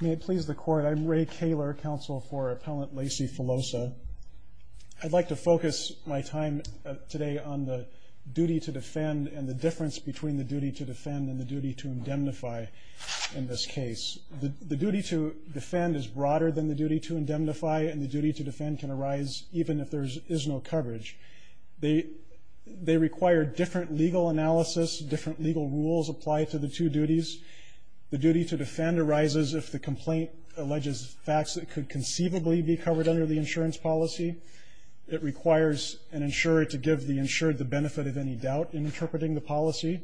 May it please the Court, I'm Ray Kaler, Counsel for Appellant Lacey Filosa. I'd like to focus my time today on the duty to defend and the difference between the duty to defend and the duty to indemnify in this case. The duty to defend is broader than the duty to indemnify, and the duty to defend can arise even if there is no coverage. They require different legal analysis, different legal rules apply to the two duties. The duty to defend arises if the complaint alleges facts that could conceivably be covered under the insurance policy. It requires an insurer to give the insured the benefit of any doubt in interpreting the policy,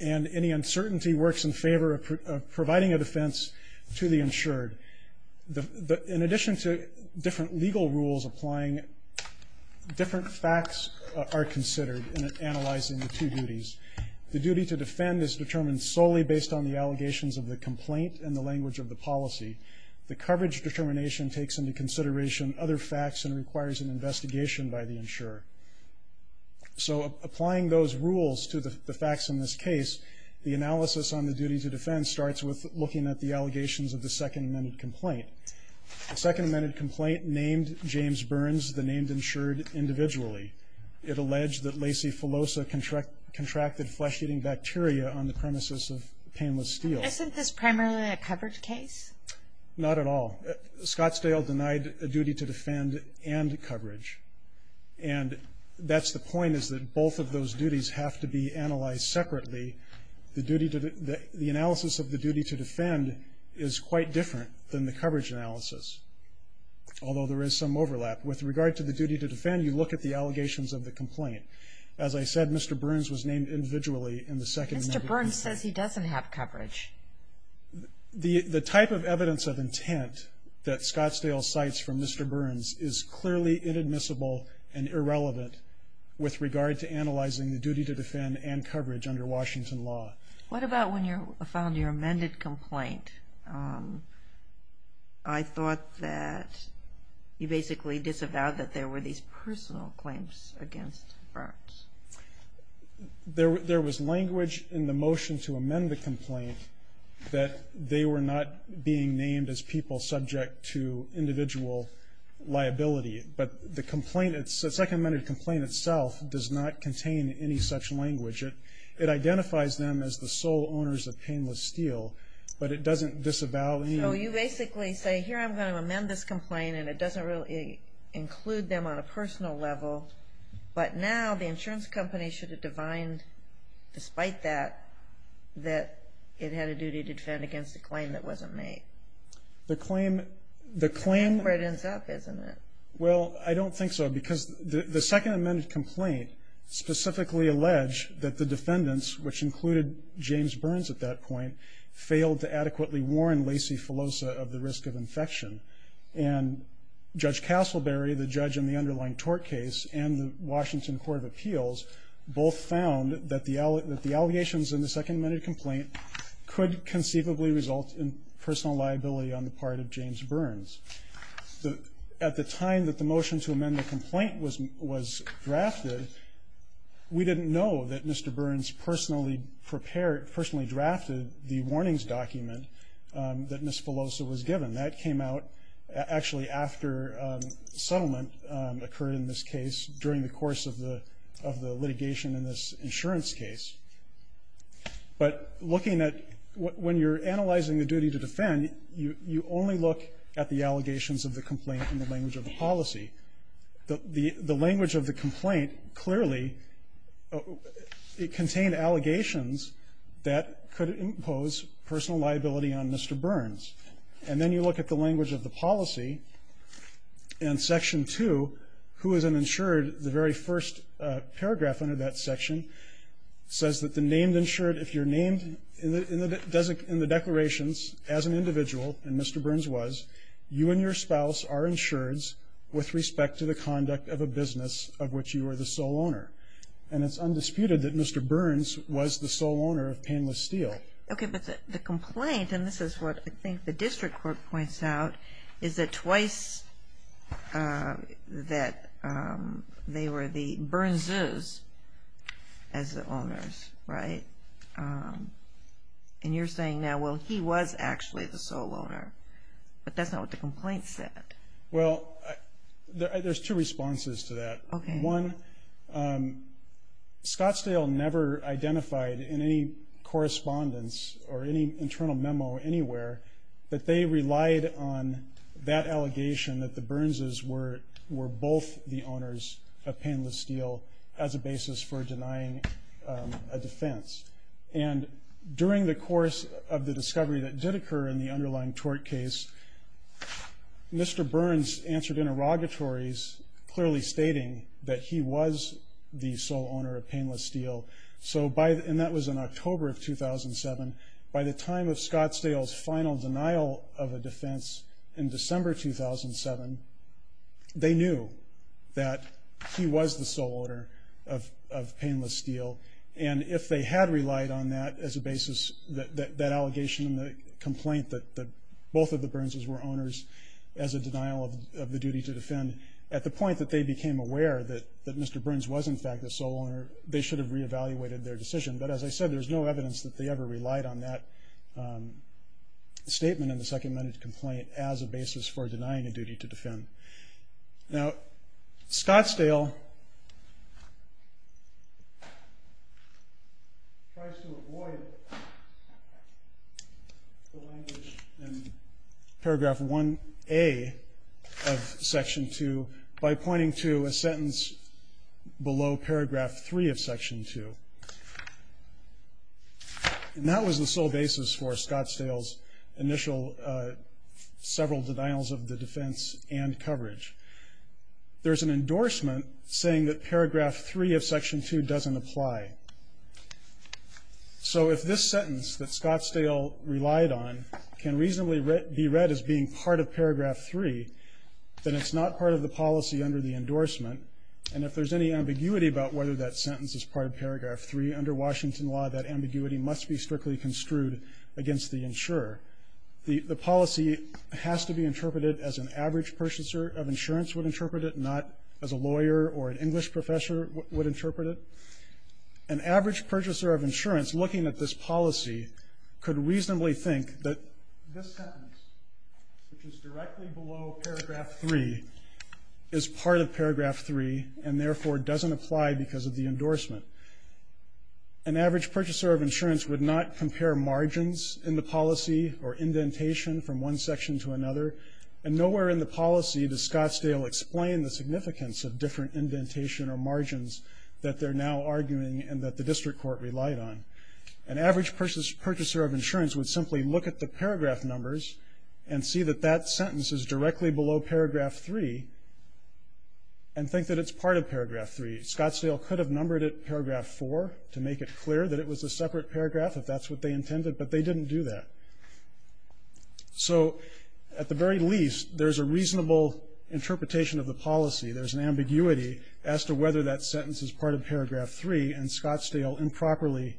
and any uncertainty works in favor of providing a defense to the insured. In addition to different legal rules applying, different facts are considered in analyzing the two duties. The duty to defend is determined solely based on the allegations of the complaint and the language of the policy. The coverage determination takes into consideration other facts and requires an investigation by the insurer. So applying those rules to the facts in this case, the analysis on the duty to defend starts with looking at the allegations of the second amended complaint. The second amended complaint named James Burns, the named insured, individually. It alleged that Lacey Filosa contracted flesh-eating bacteria on the premises of Painless Steel. Isn't this primarily a coverage case? Not at all. Scottsdale denied a duty to defend and coverage, and that's the point is that both of those duties have to be analyzed separately. The analysis of the duty to defend is quite different than the coverage analysis, although there is some overlap. With regard to the duty to defend, you look at the allegations of the complaint. As I said, Mr. Burns was named individually in the second amended complaint. Mr. Burns says he doesn't have coverage. The type of evidence of intent that Scottsdale cites from Mr. Burns is clearly inadmissible and irrelevant with regard to analyzing the duty to defend and coverage under Washington law. What about when you found your amended complaint? I thought that you basically disavowed that there were these personal claims against Burns. There was language in the motion to amend the complaint that they were not being named as people subject to individual liability, but the second amended complaint itself does not contain any such language. It identifies them as the sole owners of painless steel, but it doesn't disavow. So you basically say, here, I'm going to amend this complaint, and it doesn't really include them on a personal level, but now the insurance company should have defined, despite that, that it had a duty to defend against a claim that wasn't made. The claim... That's where it ends up, isn't it? Well, I don't think so, because the second amended complaint specifically alleged that the defendants, which included James Burns at that point, failed to adequately warn Lacey Filosa of the risk of infection, and Judge Castleberry, the judge in the underlying tort case, and the Washington Court of Appeals both found that the allegations in the second amended complaint could conceivably result in personal liability on the part of James Burns. At the time that the motion to amend the complaint was drafted, we didn't know that Mr. Burns personally drafted the warnings document that Ms. Filosa was given. That came out, actually, after settlement occurred in this case during the course of the litigation in this insurance case. But looking at... When you're analyzing the duty to defend, you only look at the allegations of the complaint in the language of the policy. The language of the complaint clearly contained allegations that could impose personal liability on Mr. Burns. And then you look at the language of the policy, and Section 2, who is an insured, the very first paragraph under that section says that the named insured, if you're named in the declarations as an individual, and Mr. Burns was, you and your spouse are insureds with respect to the conduct of a business of which you are the sole owner. And it's undisputed that Mr. Burns was the sole owner of Painless Steel. Okay, but the complaint, and this is what I think the district court points out, is that twice that they were the Burns's as the owners, right? And you're saying now, well, he was actually the sole owner, but that's not what the complaint said. Well, there's two responses to that. Okay. One, Scottsdale never identified in any correspondence or any internal memo anywhere that they relied on that allegation that the Burns's were both the owners of Painless Steel as a basis for denying a defense. And during the course of the discovery that did occur in the underlying tort case, Mr. Burns answered interrogatories, clearly stating that he was the sole owner of Painless Steel. And that was in October of 2007. By the time of Scottsdale's final denial of a defense in December 2007, they knew that he was the sole owner of Painless Steel. And if they had relied on that as a basis, that allegation and the complaint that both of the Burns's were owners as a denial of the duty to defend, at the point that they became aware that Mr. Burns was, in fact, the sole owner, they should have reevaluated their decision. But as I said, there's no evidence that they ever relied on that statement in the second-minute complaint as a basis for denying a duty to defend. Now, Scottsdale tries to avoid the language in paragraph 1A of section 2 by pointing to a sentence below paragraph 3 of section 2. And that was the sole basis for Scottsdale's initial several denials of the defense and coverage. There's an endorsement saying that paragraph 3 of section 2 doesn't apply. So if this sentence that Scottsdale relied on can reasonably be read as being part of paragraph 3, then it's not part of the policy under the endorsement. And if there's any ambiguity about whether that sentence is part of paragraph 3, under Washington law, that ambiguity must be strictly construed against the insurer. The policy has to be interpreted as an average purchaser of insurance would interpret it, not as a lawyer or an English professor would interpret it. An average purchaser of insurance looking at this policy could reasonably think that this sentence, which is directly below paragraph 3, is part of paragraph 3 and, therefore, doesn't apply because of the endorsement. An average purchaser of insurance would not compare margins in the policy or indentation from one section to another. And nowhere in the policy does Scottsdale explain the significance of different indentation or margins that they're now arguing and that the district court relied on. An average purchaser of insurance would simply look at the paragraph numbers and see that that sentence is directly below paragraph 3 and think that it's part of paragraph 3. Scottsdale could have numbered it paragraph 4 to make it clear that it was a separate paragraph, if that's what they intended, but they didn't do that. So at the very least, there's a reasonable interpretation of the policy. There's an ambiguity as to whether that sentence is part of paragraph 3 and Scottsdale improperly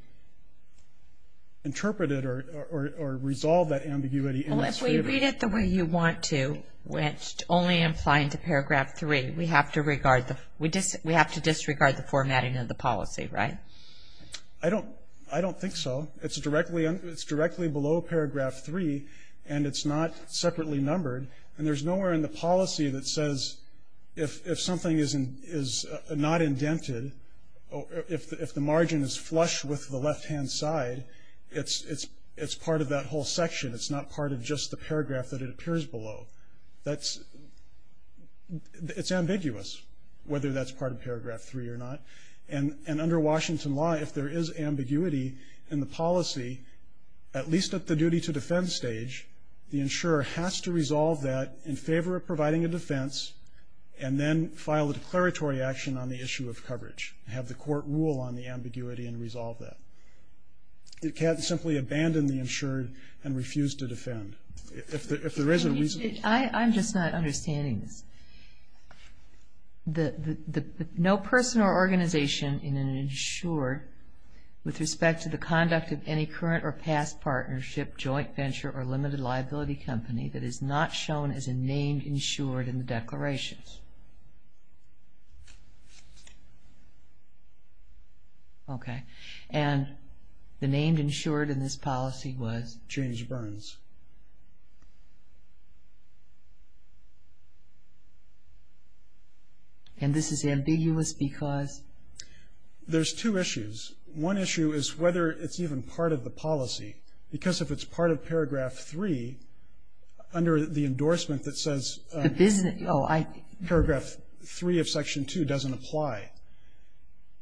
interpreted or resolved that ambiguity. Well, if we read it the way you want to, only applying to paragraph 3, we have to disregard the formatting of the policy, right? I don't think so. It's directly below paragraph 3, and it's not separately numbered, and there's nowhere in the policy that says if something is not indented, if the margin is flush with the left-hand side, it's part of that whole section. It's not part of just the paragraph that it appears below. It's ambiguous whether that's part of paragraph 3 or not, and under Washington law, if there is ambiguity in the policy, at least at the duty to defend stage, the insurer has to resolve that in favor of providing a defense and then file a declaratory action on the issue of coverage, have the court rule on the ambiguity and resolve that. It can't simply abandon the insured and refuse to defend. If there is a reason... I'm just not understanding this. No person or organization in an insured, with respect to the conduct of any current or past partnership, joint venture, or limited liability company that is not shown as a named insured in the declarations. Okay. And the named insured in this policy was? James Burns. And this is ambiguous because? There's two issues. One issue is whether it's even part of the policy, because if it's part of paragraph 3, under the endorsement that says... The business... Paragraph 3 of section 2 doesn't apply.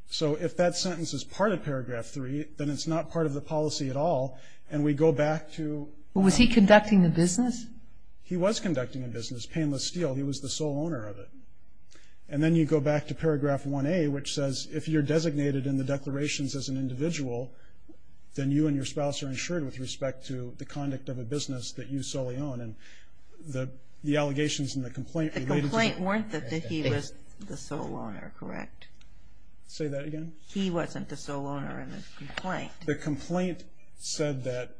So if that sentence is part of paragraph 3, then it's not part of the policy at all, and we go back to... Was he conducting a business? He was conducting a business, Painless Steel. He was the sole owner of it. And then you go back to paragraph 1A, which says if you're designated in the declarations as an individual, then you and your spouse are insured with respect to the conduct of a business that you solely own. And the allegations in the complaint related to... The complaint warned that he was the sole owner, correct? Say that again? He wasn't the sole owner in the complaint. The complaint said that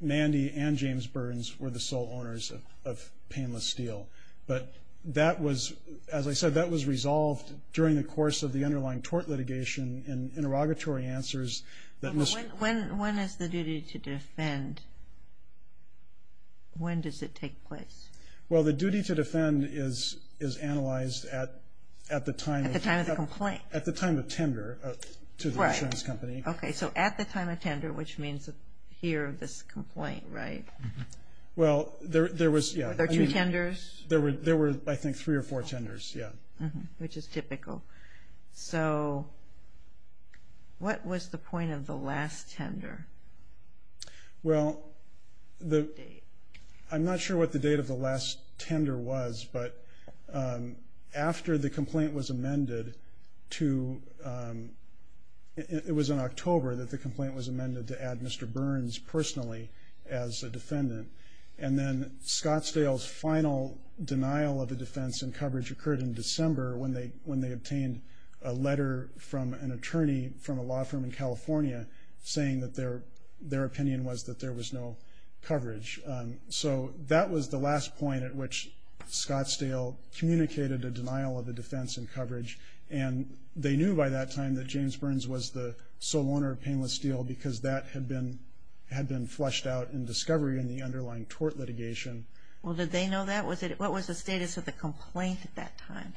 Mandy and James Burns were the sole owners of Painless Steel. But that was, as I said, that was resolved during the course of the underlying tort litigation and interrogatory answers that... When is the duty to defend? When does it take place? Well, the duty to defend is analyzed at the time... At the time of the complaint. At the time of tender to the insurance company. Right. Okay, so at the time of tender, which means here, this complaint, right? Well, there was... Were there two tenders? There were, I think, three or four tenders, yeah. Which is typical. So what was the point of the last tender? Well, I'm not sure what the date of the last tender was, but after the complaint was amended to... It was in October that the complaint was amended to add Mr. Burns personally as a defendant. And then Scottsdale's final denial of the defense and coverage occurred in December when they obtained a letter from an attorney from a law firm in California saying that their opinion was that there was no coverage. So that was the last point at which Scottsdale communicated a denial of the defense and coverage. And they knew by that time that James Burns was the sole owner of Painless Steel because that had been flushed out in discovery in the underlying tort litigation. Well, did they know that? What was the status of the complaint at that time?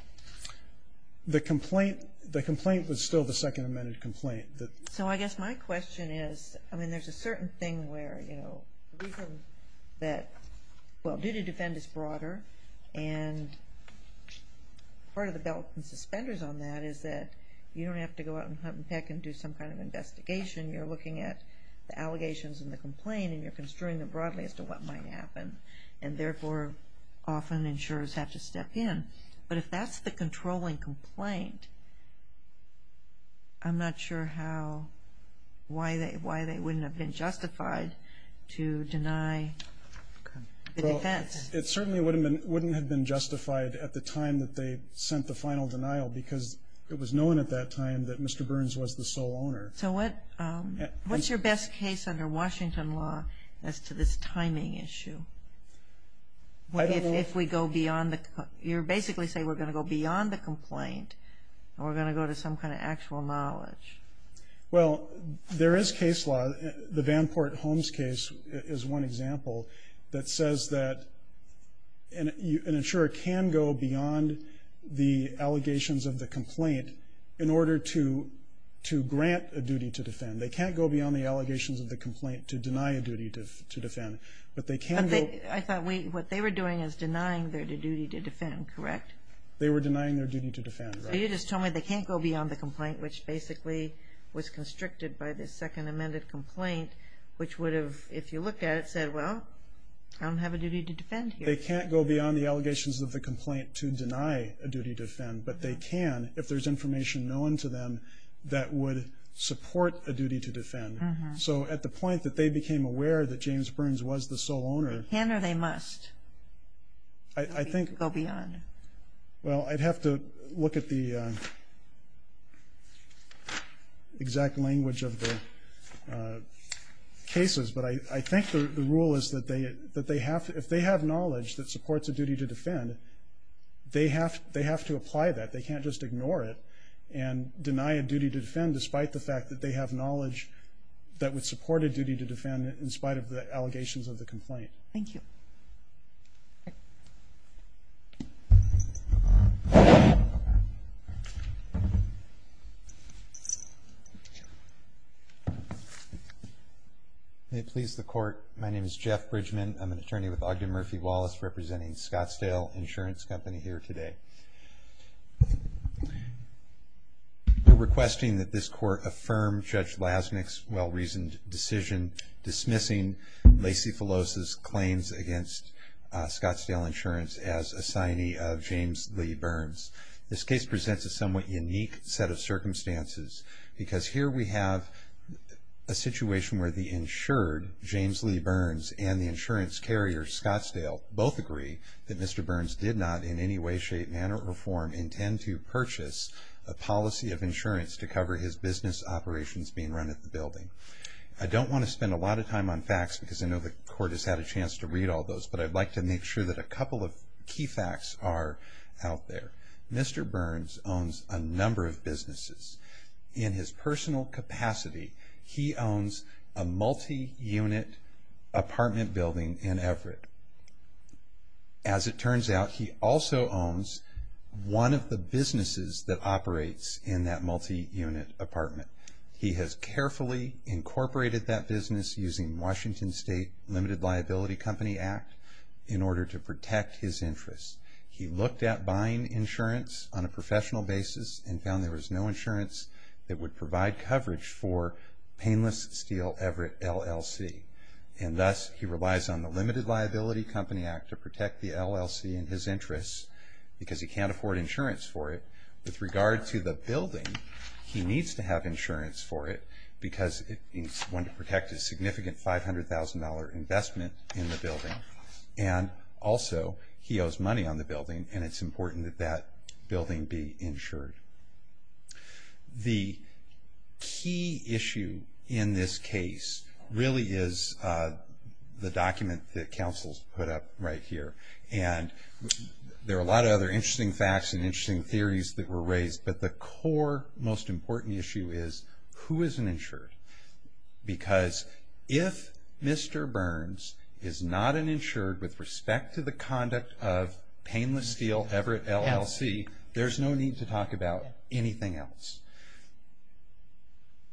The complaint was still the second amended complaint. So I guess my question is, I mean, there's a certain thing where, you know, the reason that, well, duty to defend is broader, and part of the belt and suspenders on that is that you don't have to go out and hunt and peck and do some kind of investigation. You're looking at the allegations and the complaint and you're construing them broadly as to what might happen, and therefore often insurers have to step in. But if that's the controlling complaint, I'm not sure why they wouldn't have been justified to deny the defense. It certainly wouldn't have been justified at the time that they sent the final denial because it was known at that time that Mr. Burns was the sole owner. So what's your best case under Washington law as to this timing issue? If we go beyond the complaint. You're basically saying we're going to go beyond the complaint and we're going to go to some kind of actual knowledge. Well, there is case law. The Vanport Holmes case is one example that says that an insurer can go beyond the allegations of the complaint in order to grant a duty to defend. They can't go beyond the allegations of the complaint to deny a duty to defend. I thought what they were doing is denying their duty to defend, correct? They were denying their duty to defend. So you're just telling me they can't go beyond the complaint, which basically was constricted by the second amended complaint, which would have, if you looked at it, said, well, I don't have a duty to defend here. They can't go beyond the allegations of the complaint to deny a duty to defend, but they can if there's information known to them that would support a duty to defend. So at the point that they became aware that James Burns was the sole owner. They can or they must go beyond. Well, I'd have to look at the exact language of the cases, but I think the rule is that if they have knowledge that supports a duty to defend, they have to apply that. They can't just ignore it and deny a duty to defend despite the fact that they have knowledge that would support a duty to defend in spite of the allegations of the complaint. Thank you. May it please the Court, my name is Jeff Bridgman. I'm an attorney with Ogden Murphy Wallace representing Scottsdale Insurance Company here today. We're requesting that this Court affirm Judge Lasnik's well-reasoned decision dismissing Lacey Phyllos' claims against Scottsdale Insurance as assignee of James Lee Burns. This case presents a somewhat unique set of circumstances because here we have a situation where the insured James Lee Burns and the insurance carrier Scottsdale both agree that Mr. Burns did not in any way, shape, manner or form intend to purchase a policy of insurance to cover his business operations being run at the building. I don't want to spend a lot of time on facts because I know the Court has had a chance to read all those, but I'd like to make sure that a couple of key facts are out there. Mr. Burns owns a number of businesses. In his personal capacity, he owns a multi-unit apartment building in Everett. As it turns out, he also owns one of the businesses that operates in that multi-unit apartment. He has carefully incorporated that business using Washington State Limited Liability Company Act in order to protect his interests. He looked at buying insurance on a professional basis and found there was no insurance that would provide coverage for painless steel Everett LLC. And thus, he relies on the Limited Liability Company Act to protect the LLC in his interests because he can't afford insurance for it. With regard to the building, he needs to have insurance for it because he wants to protect his significant $500,000 investment in the building. Also, he owes money on the building and it's important that that building be insured. The key issue in this case really is the document that counsels put up right here. There are a lot of other interesting facts and interesting theories that were raised, but the core most important issue is who is insured? Because if Mr. Burns is not an insured with respect to the conduct of painless steel Everett LLC, there's no need to talk about anything else.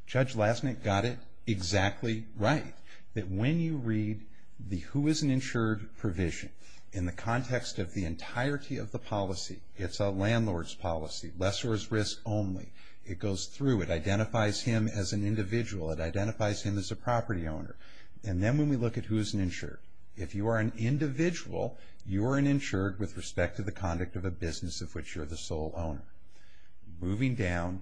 Judge Lastnick got it exactly right, that when you read the who is an insured provision, in the context of the entirety of the policy, it's a landlord's policy, lessor's risk only. It goes through. It identifies him as an individual. It identifies him as a property owner. And then when we look at who is an insured, if you are an individual, you are an insured with respect to the conduct of a business of which you're the sole owner. Moving down,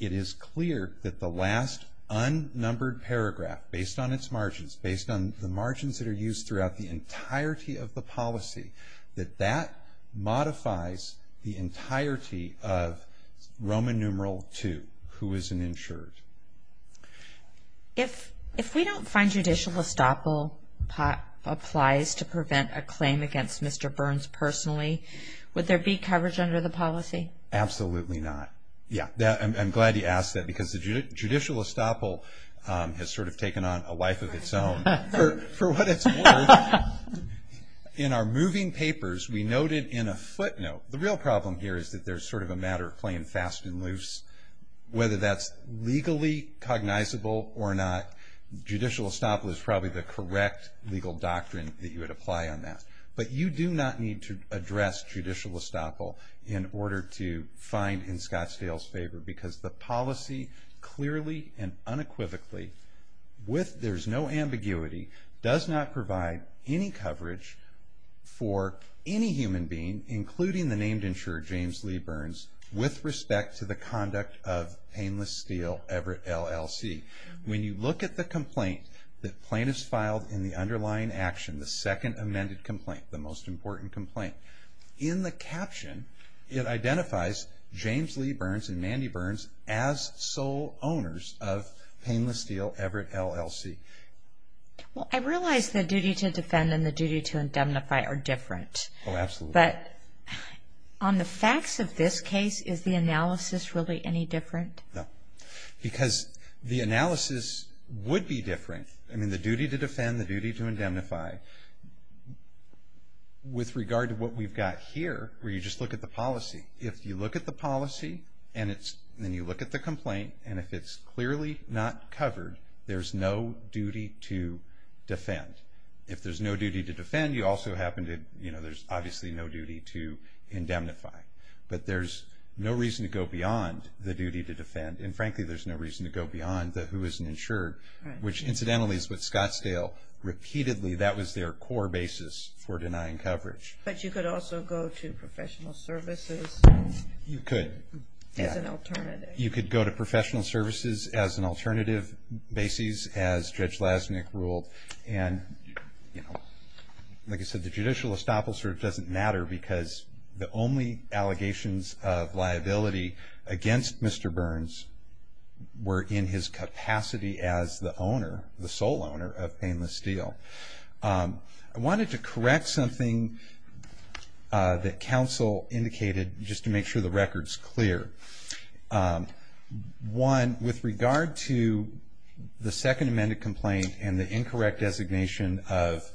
it is clear that the last unnumbered paragraph, based on its margins, based on the margins that are used throughout the entirety of the policy, that that modifies the entirety of Roman numeral two, who is an insured. If we don't find judicial estoppel applies to prevent a claim against Mr. Burns personally, would there be coverage under the policy? Absolutely not. Yeah. I'm glad you asked that because the judicial estoppel has sort of taken on a life of its own. For what it's worth, in our moving papers, we noted in a footnote, the real problem here is that there's sort of a matter of playing fast and loose. Whether that's legally cognizable or not, judicial estoppel is probably the correct legal doctrine that you would apply on that. But you do not need to address judicial estoppel in order to find in Scottsdale's favor because the policy clearly and unequivocally, there's no ambiguity, does not provide any coverage for any human being, including the named insurer, James Lee Burns, with respect to the conduct of painless steal, Everett LLC. When you look at the complaint that plaintiffs filed in the underlying action, the second amended complaint, the most important complaint, in the caption, it identifies James Lee Burns and Mandy Burns as sole owners of painless steal, Everett LLC. Well, I realize the duty to defend and the duty to indemnify are different. Oh, absolutely. But on the facts of this case, is the analysis really any different? No. Because the analysis would be different. I mean, the duty to defend, the duty to indemnify, with regard to what we've got here where you just look at the policy, if you look at the policy and then you look at the complaint, and if it's clearly not covered, there's no duty to defend. If there's no duty to defend, you also happen to, you know, there's obviously no duty to indemnify. But there's no reason to go beyond the duty to defend, and frankly, there's no reason to go beyond the who is insured, which incidentally is what Scottsdale repeatedly, that was their core basis for denying coverage. But you could also go to professional services. You could. As an alternative. You could go to professional services as an alternative basis, as Judge Lasnik ruled, and, you know, like I said, the judicial estoppel sort of doesn't matter because the only allegations of liability against Mr. Burns were in his capacity as the owner, the sole owner of Painless Steel. I wanted to correct something that counsel indicated, just to make sure the record's clear. One, with regard to the second amended complaint and the incorrect designation of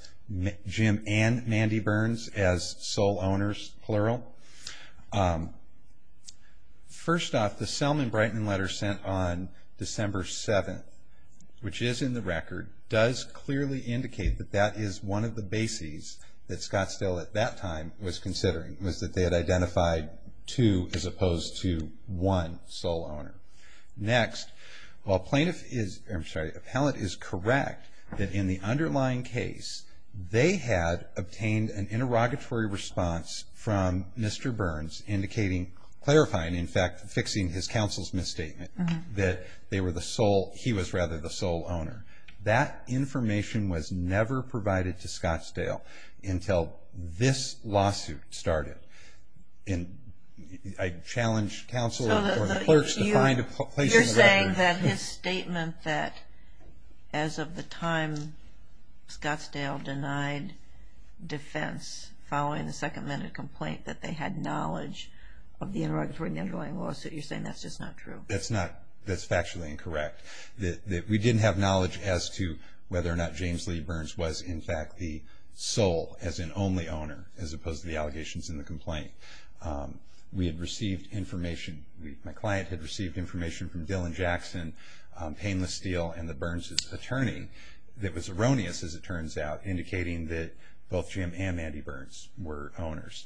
Jim and Mandy Burns as sole owners, plural. First off, the Selman-Brighton letter sent on December 7th, which is in the record, does clearly indicate that that is one of the bases that Scottsdale at that time was considering, was that they had identified two as opposed to one sole owner. Next, while plaintiff is, I'm sorry, appellant is correct that in the underlying case, they had obtained an interrogatory response from Mr. Burns indicating, clarifying, in fact, fixing his counsel's misstatement that they were the sole, he was rather the sole owner. That information was never provided to Scottsdale until this lawsuit started. And I challenge counsel or the clerks to find a place in the record. And that his statement that as of the time Scottsdale denied defense, following the second amended complaint, that they had knowledge of the interrogatory underlying lawsuit, you're saying that's just not true? That's factually incorrect. We didn't have knowledge as to whether or not James Lee Burns was, in fact, the sole, as in only owner, as opposed to the allegations in the complaint. We had received information. My client had received information from Dylan Jackson, Painless Steel, and the Burns' attorney that was erroneous, as it turns out, indicating that both Jim and Mandy Burns were owners.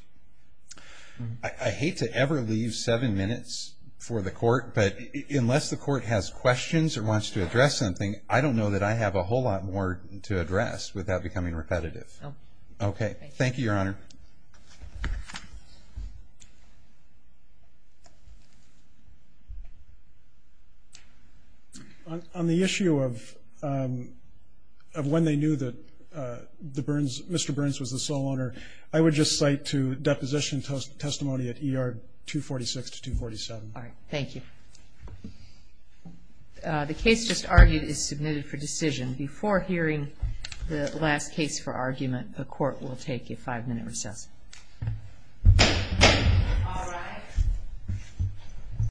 I hate to ever leave seven minutes for the court, but unless the court has questions or wants to address something, I don't know that I have a whole lot more to address without becoming repetitive. Okay. Thank you, Your Honor. On the issue of when they knew that Mr. Burns was the sole owner, I would just cite to deposition testimony at ER 246 to 247. All right. Thank you. The case just argued is submitted for decision. Before hearing the last case for argument, the court will take a five-minute recess. All rise. The case is submitted.